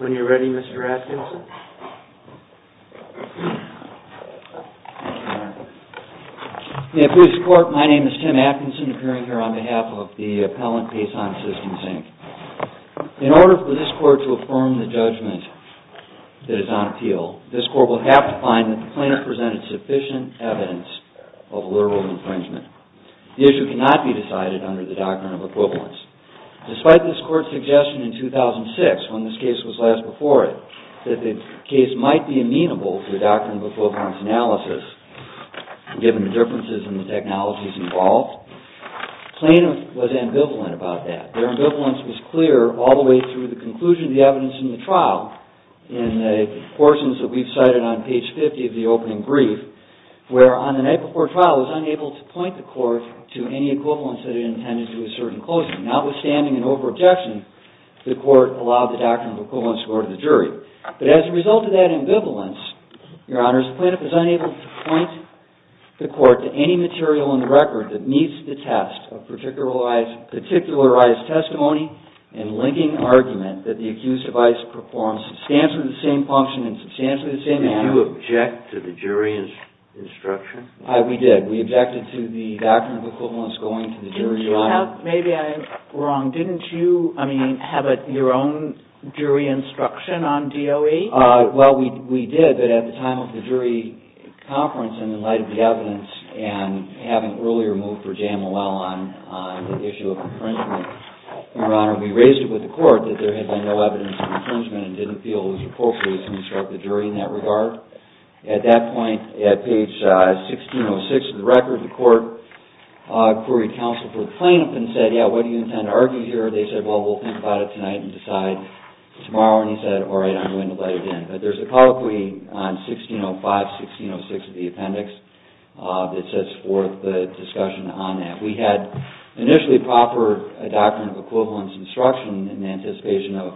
When you're ready, Mr. Atkinson. In this court, my name is Tim Atkinson, appearing here on behalf of the appellant, Pason Systems, Inc. In order for this court to affirm the judgment that is on appeal, this court will have to find that the plaintiff presented sufficient evidence of a liberal infringement. The issue cannot be decided under the doctrine of equivalence. Despite this court's suggestion in 2006, when this case was last before it, that the case might be amenable to a doctrine of equivalence analysis, given the differences in the technologies involved, the plaintiff was ambivalent about that. Their ambivalence was clear all the way through the conclusion of the evidence in the trial, in the portions that we've cited on page 50 of the opening brief, where on the night before trial, it was unable to point the court to any equivalence that it intended to assert in closing. Notwithstanding an over-objection, the court allowed the doctrine of equivalence to go to the jury. But as a result of that ambivalence, Your Honor, the plaintiff was unable to point the court to any material in the record that meets the test of particularized testimony and linking argument that the accused device performed substantially the same function in substantially the same manner. Did you object to the jury's instruction? Aye, we did. We objected to the doctrine of equivalence going to the jury, Your Honor. Maybe I'm wrong. Didn't you have your own jury instruction on DOE? Well, we did, but at the time of the jury conference, in the light of the evidence, and having earlier moved for JMOL on the issue of infringement, Your Honor, we raised it with the court that there had been no evidence of infringement and didn't feel it was appropriate to instruct the jury in that regard. At that point, at page 1606 of the record, the court queried counsel for the plaintiff and said, yeah, what do you intend to argue here? They said, well, we'll think about it tonight and decide tomorrow. And he said, all right, I'm going to let it in. But there's a colloquy on 1605, 1606 of the appendix that sets forth the discussion on that. We had initially proper doctrine of equivalence instruction in anticipation of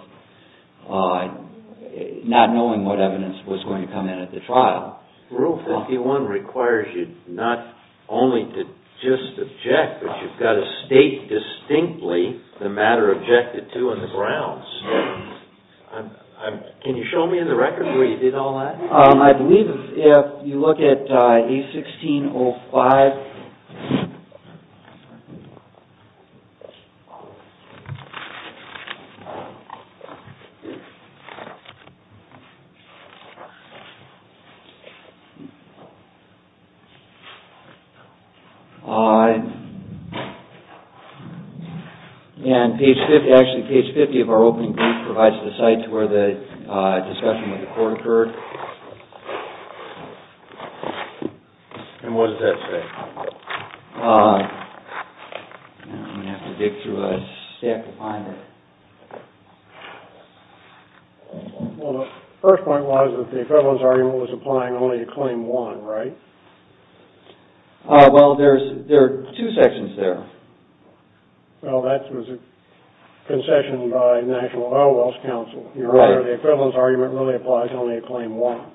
not knowing what evidence was going to come in at the trial. Rule 51 requires you not only to just object, but you've got to state distinctly the matter objected to on the grounds. Can you show me in the record where you did all that? I believe if you look at page 1605, and page 50, actually page 50 of our opening brief provides the site to where the discussion with the court occurred. And what does that say? I'm going to have to dig through a stack to find it. Well, the first point was that the equivalence argument was applying only to claim one, right? Well, there are two sections there. Well, that was a concession by National Oil Wells Council. You're right. The equivalence argument really applies only to claim one.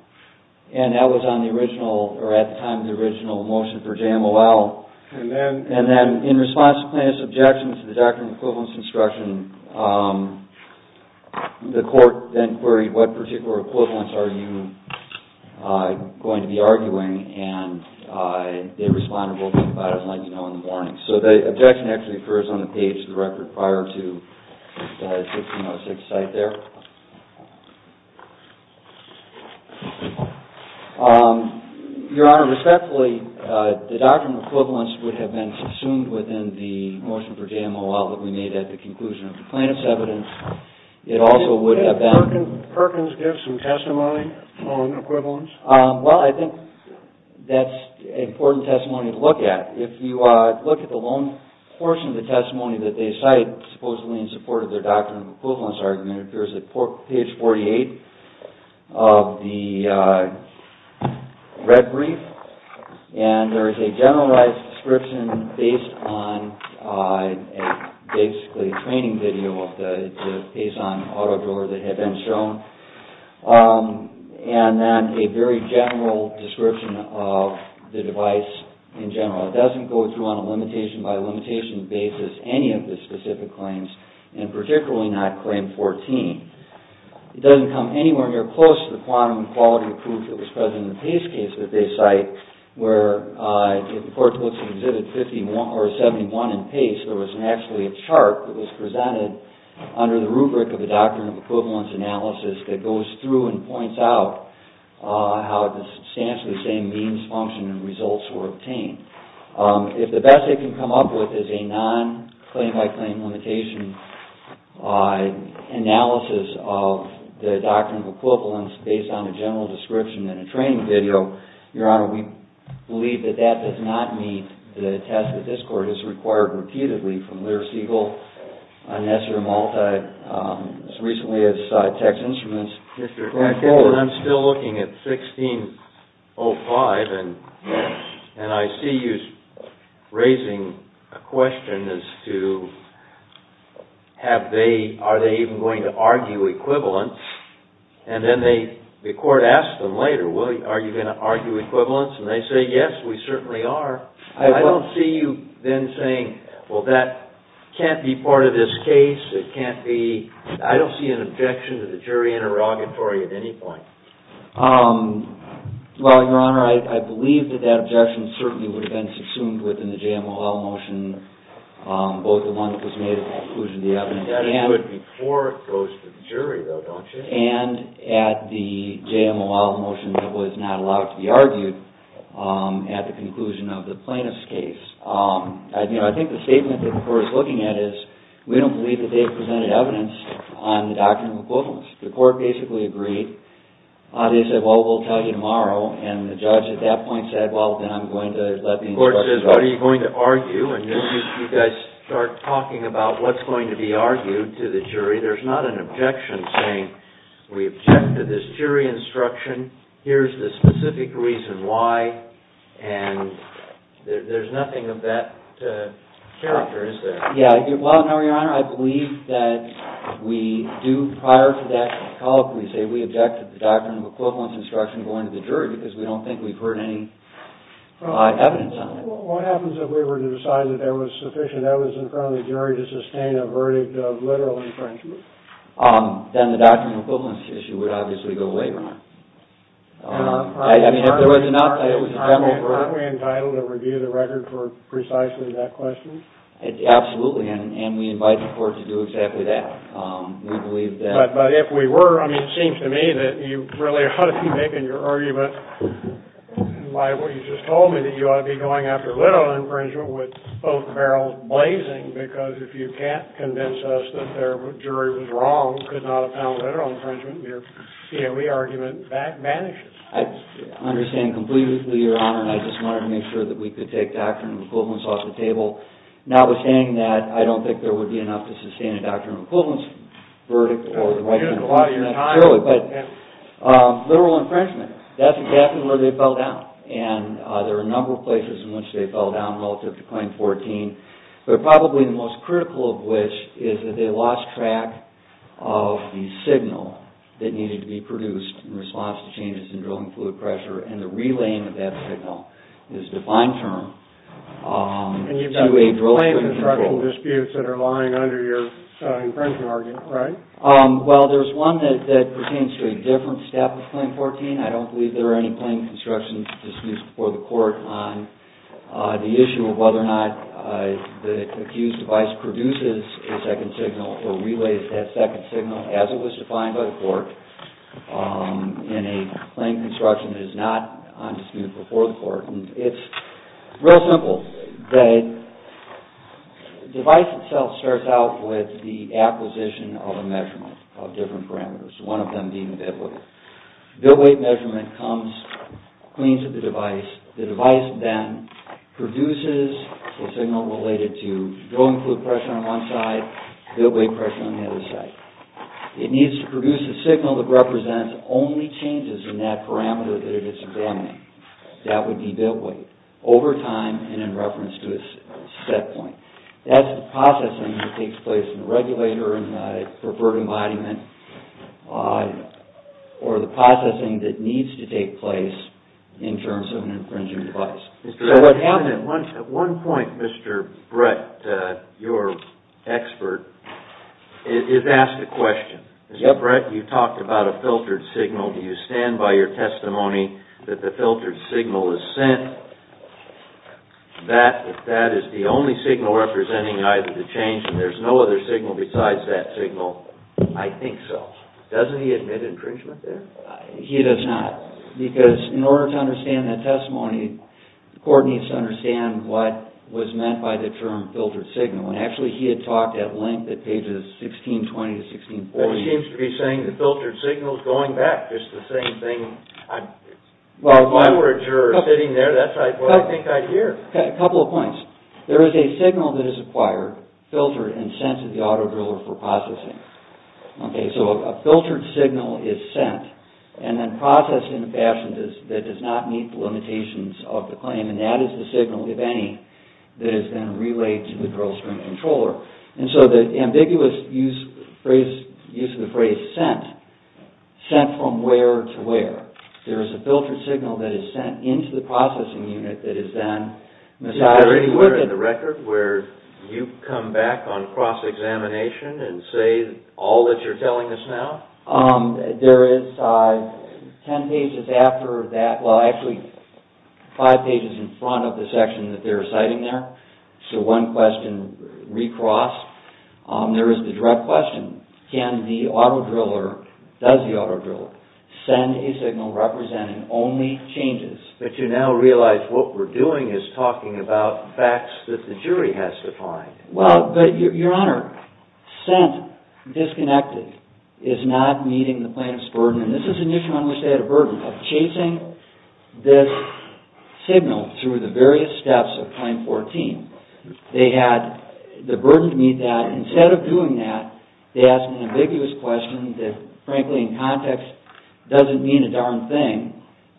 And that was on the original, or at the time of the original motion for JMOL. And then in response to plaintiff's objection to the doctrine of equivalence instruction, the court then queried what particular equivalence are you going to be arguing. And they responded, we'll think about it and let you know in the morning. So the objection actually occurs on the page of the record prior to the 1606 site there. Your Honor, respectfully, the doctrine of equivalence would have been consumed within the motion for JMOL that we made at the conclusion of the plaintiff's evidence. It also would have been. Did Perkins give some testimony on equivalence? Well, I think that's an important testimony to look at. If you look at the long portion of the testimony that they cite supposedly in support of their doctrine of equivalence argument, it appears at page 48 of the red brief. And there is a generalized description based on basically a training video based on auto-driller that had been shown. And then a very general description of the device in general. It doesn't go through on a limitation by limitation basis any of the specific claims and particularly not claim 14. It doesn't come anywhere near close to the quantum quality proof that was present in the Pace case that they cite, where if the court looks at exhibit 71 in Pace, there was actually a chart that was presented under the rubric of the doctrine of equivalence analysis that goes through and points out how substantially the same means, function, and results were obtained. If the best they can come up with is a non-claim-by-claim limitation analysis of the doctrine of equivalence based on a general description in a training video, Your Honor, we believe that that does not meet the test that this court has required repeatedly from Lear, Siegel, Nesser, and Malta as recently as text instruments going forward. I'm still looking at 1605, and I see you raising a question as to are they even going to argue equivalence. And then the court asks them later, are you going to argue equivalence? And they say, yes, we certainly are. I don't see you then saying, well, that can't be part of this case. I don't see an objection to the jury being interrogatory at any point. Well, Your Honor, I believe that that objection certainly would have been subsumed within the JMOL motion, both the one that was made at the conclusion of the evidence and at the JMOL motion that was not allowed to be argued at the conclusion of the plaintiff's case. I think the statement that the court is looking at is we don't believe that they've presented evidence on the doctrine of equivalence. The court basically agreed. They said, well, we'll tell you tomorrow. And the judge at that point said, well, then I'm going to let the instructions out. The court says, what are you going to argue? And then you guys start talking about what's going to be argued to the jury. There's not an objection saying, we objected this jury instruction. Here's the specific reason why. And there's nothing of that character, is there? Yeah. Well, no, Your Honor. I believe that we do, prior to that call up, we say we object to the doctrine of equivalence instruction going to the jury, because we don't think we've heard any evidence on it. What happens if we were to decide that there was sufficient evidence in front of the jury to sustain a verdict of literal infringement? Then the doctrine of equivalence issue would obviously go away, Your Honor. I mean, if there was not, it was a general verdict. Aren't we entitled to review the record for precisely that question? Absolutely. And we invite the court to do exactly that. We believe that. But if we were, I mean, it seems to me that you really ought to be making your argument liable. You just told me that you ought to be going after literal infringement with both barrels blazing. Because if you can't convince us that their jury was wrong, could not have found literal infringement, your CME argument vanishes. I understand completely, Your Honor. And I just wanted to make sure that we could take doctrine of equivalence off the table. Notwithstanding that, I don't think there would be enough to sustain a doctrine of equivalence verdict or the right to inquire. But literal infringement, that's exactly where they fell down. And there are a number of places in which they fell down relative to claim 14. But probably the most critical of which is that they lost track of the signal that needed to be produced in response to changes in drilling fluid pressure. And the relaying of that signal is a defined term to a drill fluid control. And you've done plane construction disputes that are lying under your infringement argument, right? Well, there's one that pertains to a different step of claim 14. I don't believe there are any plane construction disputes before the court on the issue of whether or not the accused device produces a second signal or relays that second signal as it was defined by the court in a plane construction that is not on dispute before the court. And it's real simple. The device itself starts out with the acquisition of a measurement of different parameters, one of them being a bit weight. Bit weight measurement comes clean to the device. The device then produces a signal related to drilling fluid pressure on one side, bit weight pressure on the other side. It needs to produce a signal that represents only changes in that parameter that it's examining. That would be bit weight over time and in reference to a set point. That's the processing that takes place in the regulator and the perverted embodiment or the processing that needs to take place in terms of an infringing device. At one point, Mr. Brett, your expert, is asked a question. Mr. Brett, you talked about a filtered signal. Do you stand by your testimony that the filtered signal is sent, that that is the only signal representing either the change and there's no other signal besides that signal? I think so. Doesn't he admit infringement there? He does not. Because in order to understand that testimony, the court needs to understand what was meant by the term filtered signal. And actually, he had talked at length at pages 1620 to 1640. Well, he seems to be saying the filtered signal is going back. It's the same thing. My words are sitting there. That's what I think I hear. A couple of points. There is a signal that is acquired, filtered, and sent to the auto driller for processing. So a filtered signal is sent and then processed in a fashion that does not meet the limitations of the claim. And that is the signal, if any, that is then relayed to the drill string controller. And so the ambiguous use of the phrase sent, sent from where to where. There is a filtered signal that is sent into the processing unit that is then materialized. Is there anywhere in the record where you come back on cross-examination and say all that you're telling us now? There is 10 pages after that. Well, actually, five pages in front of the section that they're citing there. So one question recrossed. There is the direct question. Can the auto driller, does the auto driller, send a signal representing only changes? But you now realize what we're doing is talking about facts that the jury has to find. Well, but your honor, sent, disconnected, is not meeting the plaintiff's burden. And this is an issue on which they had a burden of chasing this signal through the various steps of Claim 14. They had the burden to meet that. Instead of doing that, they asked an ambiguous question that, frankly, in context, doesn't mean a darn thing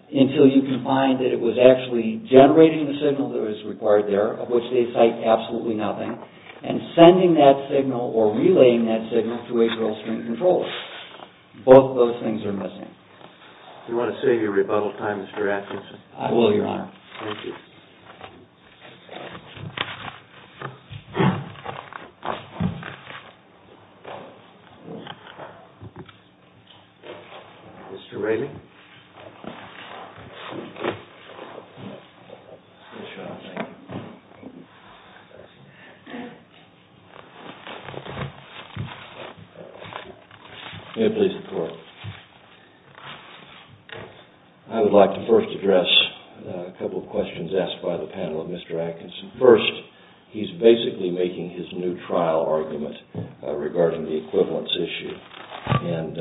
until you can find that it was actually generating the signal that was required there, of which they cite absolutely nothing, and sending that signal or relaying that signal to a drill string controller. Both those things are missing. Do you want to save your rebuttal time, Mr. Atkinson? I will, your honor. Thank you. Thank you. Mr. Raley? May it please the court. I would like to first address a couple of questions asked by the panel of Mr. Atkinson. First, he's basically making his new trial argument regarding the equivalence issue. And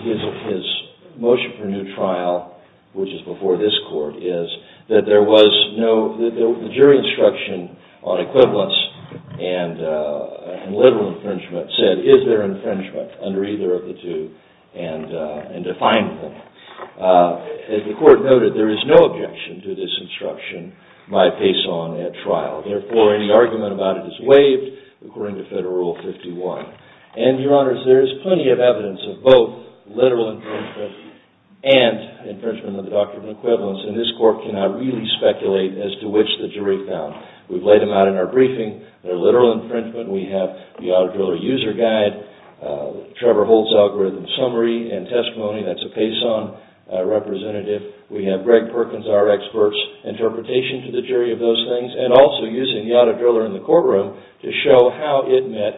his motion for new trial, which is before this court, is that the jury instruction on equivalence and literal infringement said, is there infringement under either of the two, and defined them. As the court noted, there is no objection to this instruction by Paison at trial. Therefore, any argument about it is waived, according to Federal Rule 51. And, your honors, there is plenty of evidence of both literal infringement and infringement under the doctrine of equivalence. And this court cannot really speculate as to which the jury found. We've laid them out in our briefing. They're literal infringement. We have the Autodriller User Guide. Trevor Holt's Algorithm Summary and Testimony, that's a Paison representative. We have Greg Perkins, our expert's, interpretation to the jury of those things, and also using the Autodriller in the courtroom to show how it met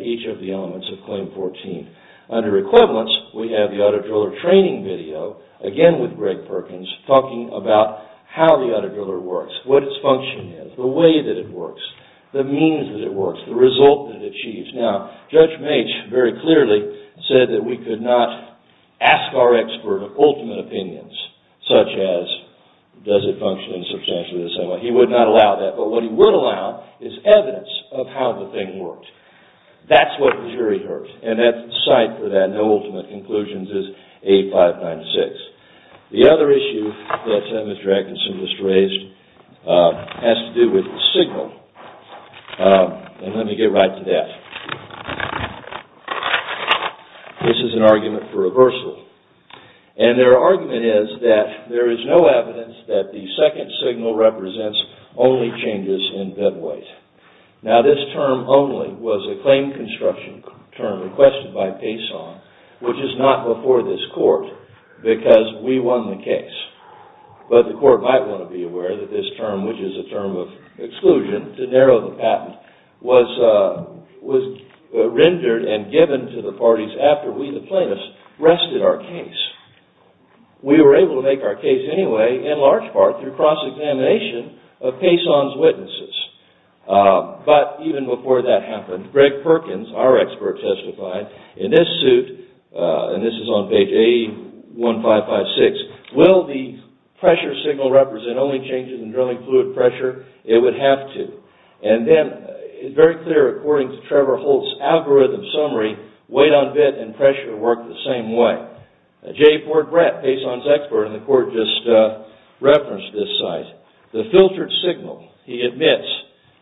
each of the elements of Claim 14. Under equivalence, we have the Autodriller training video, again with Greg Perkins, talking about how the Autodriller works, what its function is, the way that it works, the means that it works, the result that it achieves. Now, Judge Mache very clearly said that we could not ask our expert of ultimate opinions, such as, does it function in substantially the same way? He would not allow that. But what he would allow is evidence of how the thing worked. That's what the jury heard. And the site for that, no ultimate conclusions, is 8596. The other issue that Senator Atkinson just raised has to do with the signal. And let me get right to that. This is an argument for reversal. And their argument is that there is no evidence that the second signal represents only changes in bed weight. Now, this term only was a claim construction term requested by Payson, which is not before this court, because we won the case. But the court might want to be aware that this term, which is a term of exclusion to narrow the patent, was rendered and given to the parties after we, the plaintiffs, rested our case. We were able to make our case anyway, in large part, through cross-examination of Payson's witnesses. But even before that happened, Greg Perkins, our expert testified, in this suit, and this is on page 81556, will the pressure signal represent only changes in drilling fluid pressure? It would have to. And then, it's very clear, according to Trevor Holt's algorithm summary, weight on bed and pressure work the same way. Jay Portbret, Payson's expert in the court, just referenced this site. The filtered signal, he admits,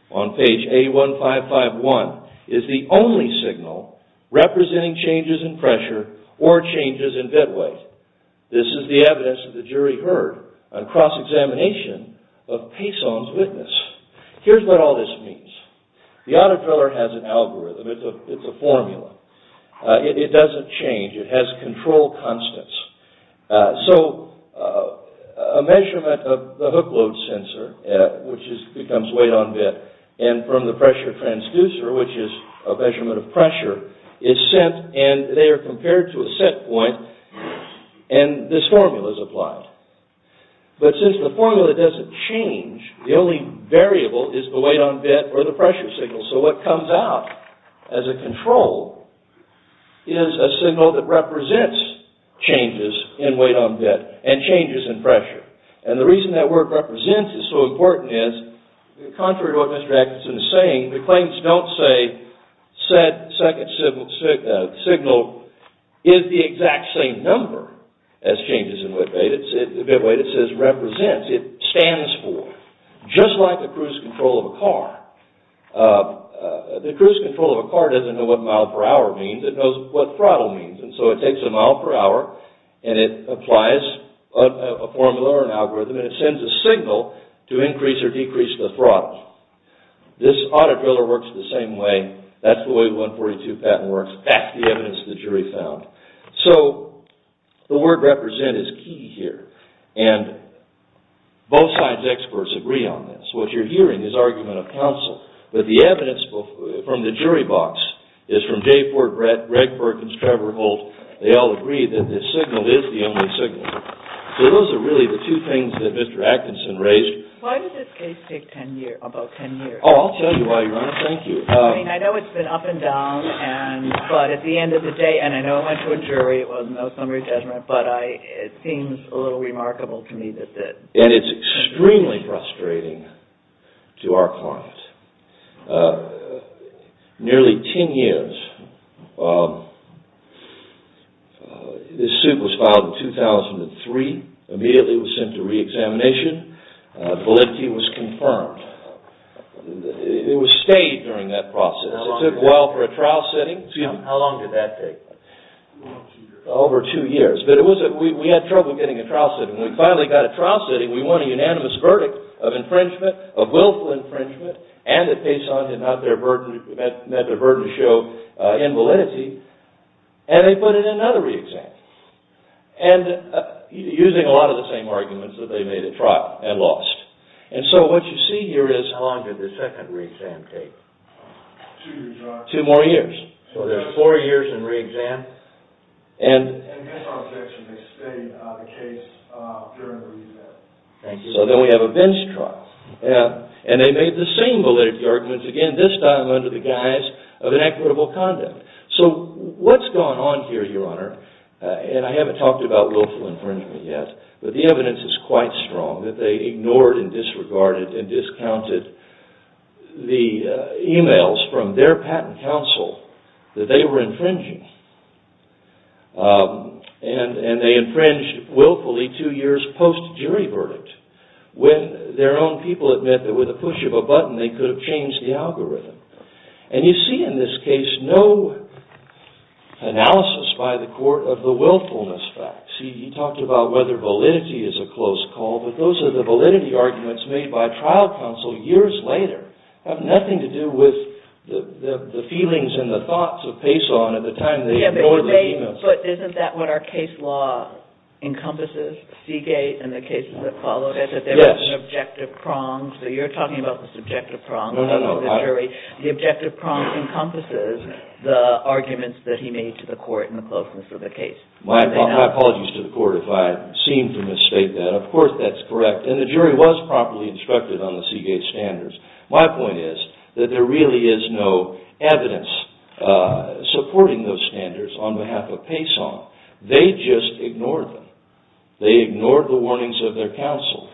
on page 81551, is the only signal representing changes in pressure or changes in bed weight. This is the evidence that the jury heard on cross-examination of Payson's witness. Here's what all this means. The auto-driller has an algorithm. It's a formula. It doesn't change. It has control constants. So, a measurement of the hook load sensor, which becomes weight on bed, and from the pressure transducer, which is a measurement of pressure, is sent and they are compared to a set point and this formula is applied. But since the formula doesn't change, the only variable is the weight on bed or the pressure signal. So, what comes out as a control is a signal that represents changes in weight on bed and changes in pressure. And the reason that word represents is so important is, contrary to what Mr. Atkinson is saying, the claims don't say said second signal is the exact same number as changes in bed weight. It says represents. It stands for. Just like the cruise control of a car. The cruise control of a car doesn't know what mile per hour means. It knows what throttle means. And so it takes a mile per hour and it applies a formula or an algorithm and it sends a signal to increase or decrease the throttle. This auto-driller works the same way. That's the way 142 patent works. That's the evidence the jury found. So, the word represent is key here. And both sides' experts agree on this. What you're hearing is argument of counsel. But the evidence from the jury box is from J. Ford Brett, Greg Perkins, Trevor Holt. They all agree that the signal is the only signal. So, those are really the two things that Mr. Atkinson raised. Why did this case take about 10 years? Oh, I'll tell you why, Your Honor. Thank you. I mean, I know it's been up and down. But at the end of the day, and I know it went to a jury. It wasn't a summary judgment. But it seems a little remarkable to me that... And it's extremely frustrating to our client. Nearly 10 years. This suit was filed in 2003. Immediately it was sent to re-examination. Validity was confirmed. It was stayed during that process. It took a while for a trial setting. How long did that take? Over two years. But we had trouble getting a trial setting. When we finally got a trial setting, we won a unanimous verdict of infringement, of willful infringement, and that Payson did not let their burden show in validity. And they put in another re-exam. And using a lot of the same arguments that they made at trial and lost. And so, what you see here is, how long did the second re-exam take? Two more years. So, there's four years in re-exam. And... So, then we have a bench trial. And they made the same validity arguments again, this time under the guise of an equitable conduct. So, what's gone on here, Your Honor? And I haven't talked about willful infringement yet. But the evidence is quite strong that they ignored and disregarded and discounted the emails from their patent counsel that they were infringing. And they infringed willfully two years post-jury verdict. When their own people admit that with a push of a button they could have changed the algorithm. And you see in this case, no analysis by the court of the willfulness facts. He talked about whether validity is a close call. But those are the validity arguments made by trial counsel years later. Have nothing to do with the feelings and the thoughts of Payson at the time they ignored the emails. But isn't that what our case law encompasses? Seagate and the cases that followed it. Yes. That there was an objective prong. So, you're talking about the subjective prong. No, no, no. The objective prong encompasses the arguments that he made to the court in the closeness of the case. My apologies to the court if I seem to mistake that. Of course, that's correct. And the jury was properly instructed on the Seagate standards. My point is that there really is no evidence supporting those standards on behalf of Payson. They just ignored them. They ignored the warnings of their counsel.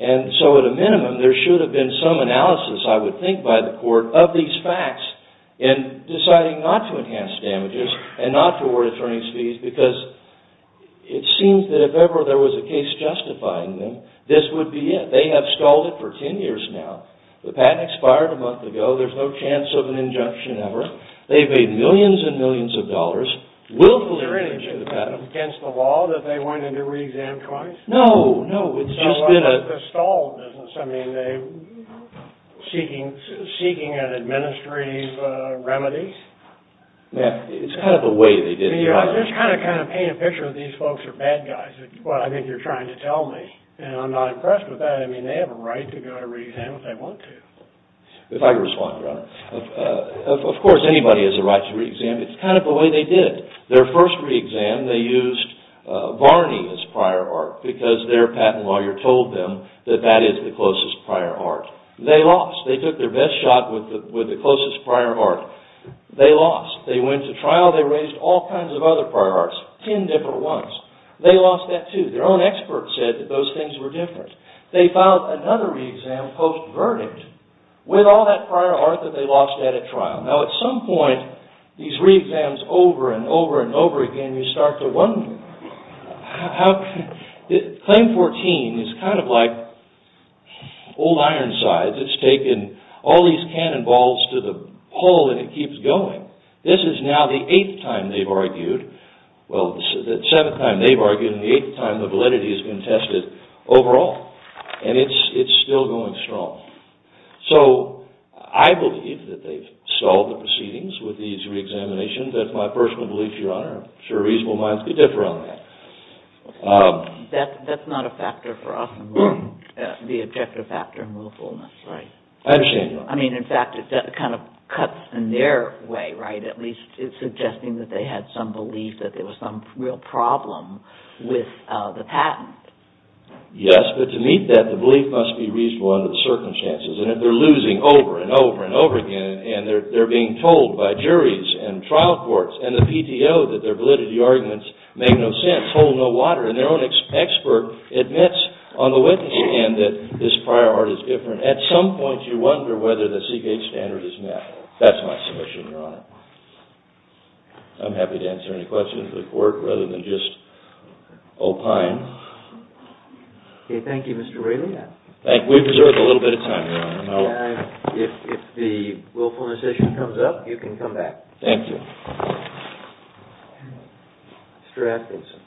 And so, at a minimum, there should have been some analysis, I would think by the court, of these facts in deciding not to enhance damages and not to award attorney's fees because it seems that if ever there was a case justifying them, this would be it. They have stalled it for 10 years now. The patent expired a month ago. There's no chance of an injunction ever. They've made millions and millions of dollars. Willfully... Is there anything against the law that they wanted to re-exam twice? No, no. It's just been a... The stall business. I mean, seeking an administrative remedy. It's kind of the way they did it. Just kind of paint a picture of these folks are bad guys, what I think you're trying to tell me. And I'm not impressed with that. I mean, they have a right to go to re-exam if they want to. If I could respond, Your Honor. Of course, anybody has a right to re-exam. It's kind of the way they did it. Their first re-exam, they used Varney as prior art because their patent lawyer told them that that is the closest prior art. They lost. They took their best shot with the closest prior art. They lost. They went to trial. They raised all kinds of other prior arts, ten different ones. They lost that, too. Their own expert said that those things were different. They filed another re-exam post-verdict with all that prior art that they lost at a trial. Now, at some point, these re-exams over and over and over again, you start to wonder how... Claim 14 is kind of like old Ironsides. It's taken all these cannonballs to the hole and it keeps going. This is now the eighth time they've argued. Well, this is the seventh time they've argued and the eighth time the validity has been tested overall and it's still going strong. So, I believe that they've solved the proceedings with these re-examinations. That's my personal belief, Your Honor. I'm sure reasonable minds could differ on that. That's not a factor for often the objective factor in willfulness, right? I understand that. I mean, in fact, it kind of cuts in their way, right? At least it's suggesting that they had some belief that there was some real problem with the patent. Yes, but to meet that, the belief must be reasonable under the circumstances. And if they're losing over and over and over again and they're being told by juries and trial courts and the PTO that their validity arguments make no sense, hold no water, and their own expert admits on the witness stand that this prior art is different, at some point you wonder whether the CK standard is met. That's my submission, Your Honor. I'm happy to answer any questions of the court rather than just opine. Okay, thank you, Mr. Wrayley. We've reserved a little bit of time, Your Honor. And if the willfulness issue comes up, you can come back. Thank you. Mr. Atkinson.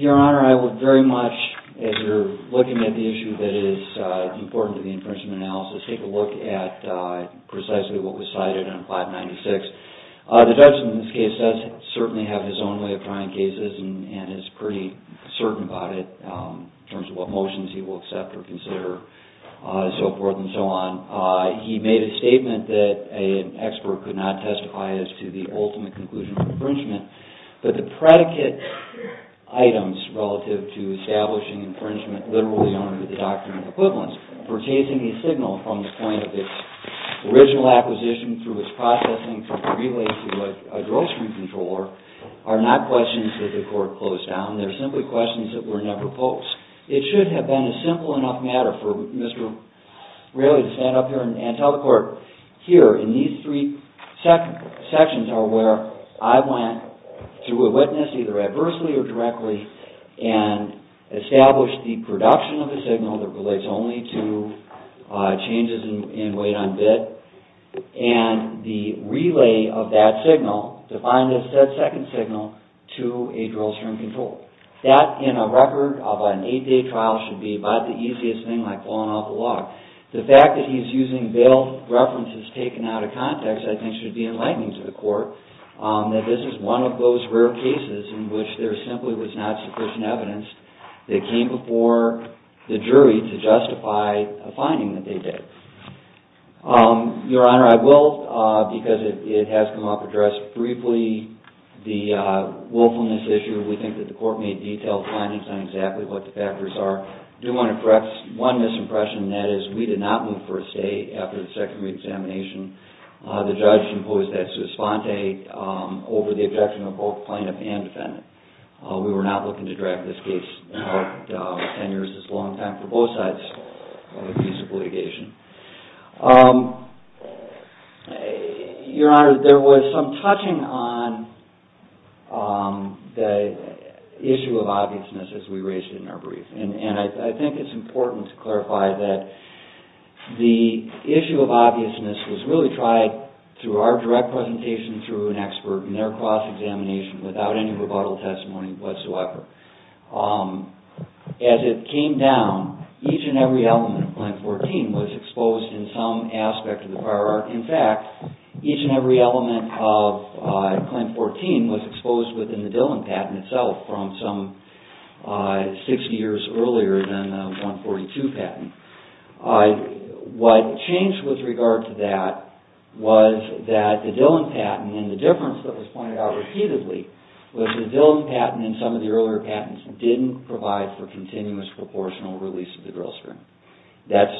Your Honor, I would very much, as you're looking at the issue that is important to the infringement analysis, take a look at precisely what was cited in 596. The judge, in this case, does certainly have his own way of trying cases and is pretty certain about it in terms of what motions he will accept or consider and so forth and so on. He made a statement that an expert could not testify as to the ultimate conclusion of infringement, but the predicate items relative to establishing infringement literally under the doctrine of equivalence for chasing a signal from the point of its original acquisition through its processing from a relay to a drill screen controller are not questions that the court closed down. They're simply questions that were never posed. It should have been a simple enough matter for Mr. Wrayley to stand up here and tell the court, here in these three sections are where I went through a witness either adversely or directly and established the production of the signal that relates only to changes in weight on bid and the relay of that signal to find a set second signal to a drill screen controller. That, in a record of an eight-day trial, should be about the easiest thing, like pulling off a lock. The fact that he's using bail references taken out of context, I think, should be enlightening to the court that this is one of those rare cases in which there simply was not sufficient evidence that came before the jury to justify a finding that they did. Your Honor, I will, because it has come up addressed briefly, the willfulness issue. We think that the court made detailed findings on exactly what the factors are. I do want to correct one misimpression, and that is we did not move for a stay after the secondary examination. The judge imposed that sua sponte over the objection of both plaintiff and defendant. We were not looking to drag this case out for 10 years. It's a long time for both sides of the case of litigation. Your Honor, there was some touching on the issue of obviousness as we raised it in our brief, and I think it's important to clarify that the issue of obviousness was really tried through our direct presentations and through an expert in their cross-examination without any rebuttal testimony whatsoever. As it came down, each and every element of Claim 14 was exposed in some aspect of the prior art. In fact, each and every element of Claim 14 was exposed within the Dillon patent itself from some 60 years earlier than the 142 patent. What changed with regard to that was that the Dillon patent and the difference that was pointed out repeatedly was that the Dillon patent and some of the earlier patents didn't provide for continuous proportional release of the drill string. That's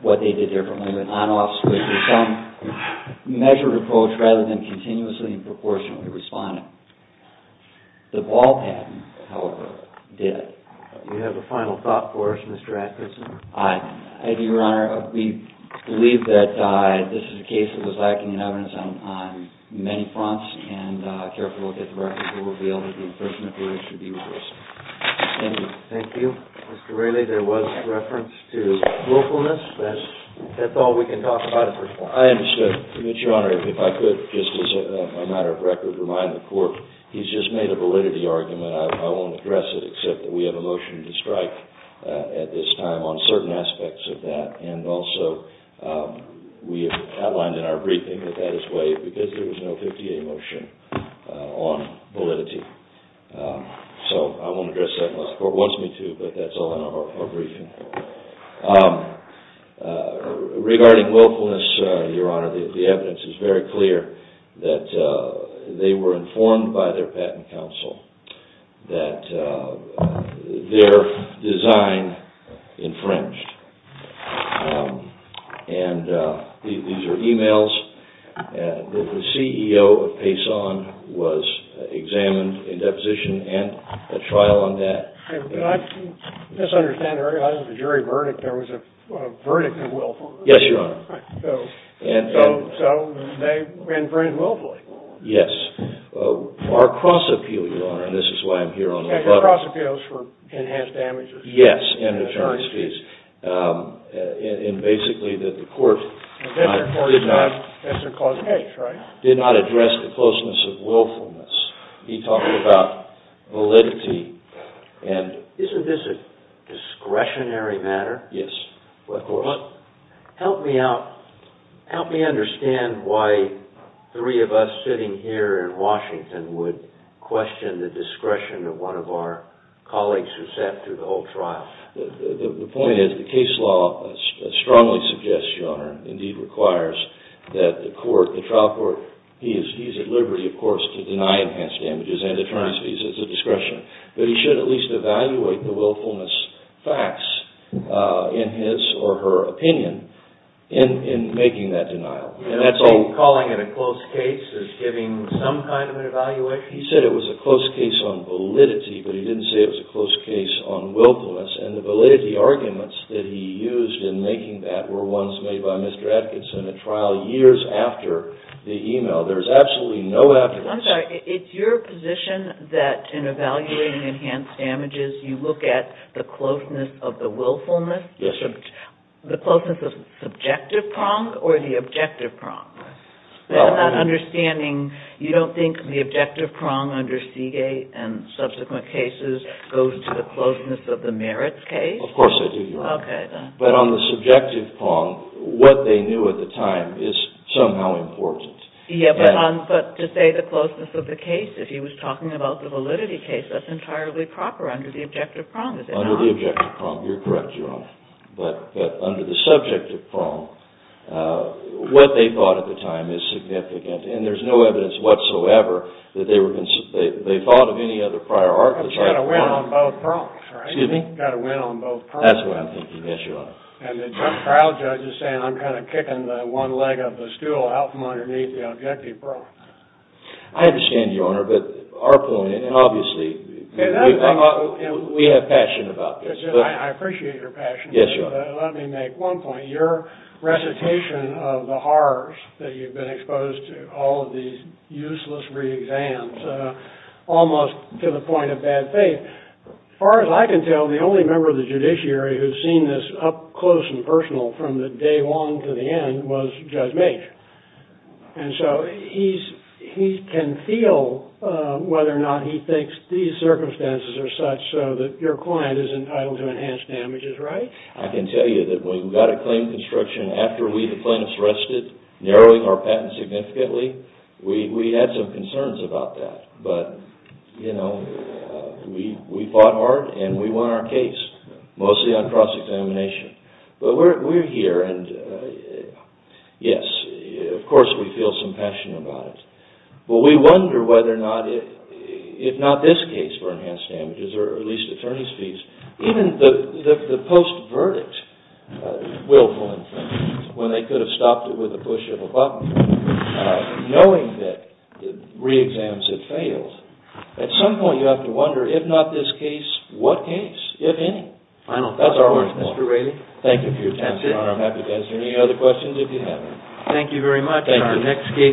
what they did differently with an on-off switch or some measured approach rather than continuously and proportionally responding. The Ball patent, however, did. Do you have a final thought for us, Mr. Atkinson? I do, Your Honor. We believe that this is a case that was lacking in evidence on many fronts and I carefully look at the records and we'll be able to do the first report that should be released. Thank you. Thank you. Mr. Raley, there was reference to localness. That's all we can talk about at this point. I understand, Your Honor. If I could, just as a matter of record, remind the Court he's just made a validity argument. I won't address it except that we have a motion to strike at this time on certain aspects of that and also we have outlined in our briefing that that is waived because there was no 50-day motion on validity. So I won't address that unless the Court wants me to, but that's all in our briefing. Regarding willfulness, Your Honor, the evidence is very clear that they were informed by their patent counsel that their design infringed. And these are e-mails. The CEO of Payson was examined in deposition and a trial on that. I misunderstand. I don't have a jury verdict. There was a verdict of willfulness. Yes, Your Honor. So they infringed willfully. Yes. Our cross-appeal, Your Honor, and this is why I'm here on the button. Cross-appeals for enhanced damages. Yes, and attorneys' fees. And basically that the Court did not address the closeness of willfulness. He talked about validity. Isn't this a discretionary matter? Yes. Help me understand why three of us sitting here in Washington would question the discretion of one of our colleagues who sat through the whole trial. The point is the case law strongly suggests, Your Honor, indeed requires, that the Court, the trial court, he is at liberty, of course, to deny enhanced damages and attorneys' fees. It's a discretion. But he should at least evaluate the willfulness facts in his or her opinion in making that denial. You're not saying calling it a close case is giving some kind of an evaluation? He said it was a close case on validity, but he didn't say it was a close case on willfulness and the validity arguments that he used in making that were ones made by Mr. Atkinson at trial years after the email. There's absolutely no afterwards. I'm sorry. It's your position that in evaluating enhanced damages you look at the closeness of the willfulness? Yes, Your Honor. The closeness of subjective prong or the objective prong? Well... I'm not understanding. You don't think the objective prong under Seagate and subsequent cases goes to the closeness of the merits case? Of course I do, Your Honor. Okay, then. But on the subjective prong, what they knew at the time is somehow important. Yeah, but to say the closeness of the case, if he was talking about the validity case, that's entirely proper under the objective prong, is it not? Under the objective prong. You're correct, Your Honor. But under the subjective prong, what they thought at the time is significant. And there's no evidence whatsoever that they thought of any other prior arguments. You've got to win on both prongs, right? Excuse me? You've got to win on both prongs. That's what I'm thinking, yes, Your Honor. And the trial judge is saying, I'm kind of kicking the one leg of the stool out from underneath the objective prong. I understand, Your Honor. But our point, and obviously, we have passion about this. I appreciate your passion. Yes, Your Honor. But let me make one point. Your recitation of the horrors that you've been exposed to, all of these useless re-exams, almost to the point of bad faith. As far as I can tell, the only member of the judiciary who's seen this up close and personal from the day long to the end was Judge Mage. And so he can feel whether or not he thinks these circumstances are such so that your client is entitled to enhanced damages, right? I can tell you that we've got a claim construction after we, the plaintiffs, arrested, narrowing our patent significantly. We had some concerns about that. But, you know, we fought hard, and we won our case, mostly on cross-examination. But we're here, and yes, of course, we feel some passion about it. But we wonder whether or not, if not this case for enhanced damages, or at least attorney's fees, even the post-verdict, willful infringement, when they could have stopped it with a push of a button, knowing that re-exams had failed, at some point you have to wonder, if not this case, what case, if any? That's our work. Thank you for your time, Your Honor. I'm happy to answer any other questions if you have any. Thank you very much. Thank you.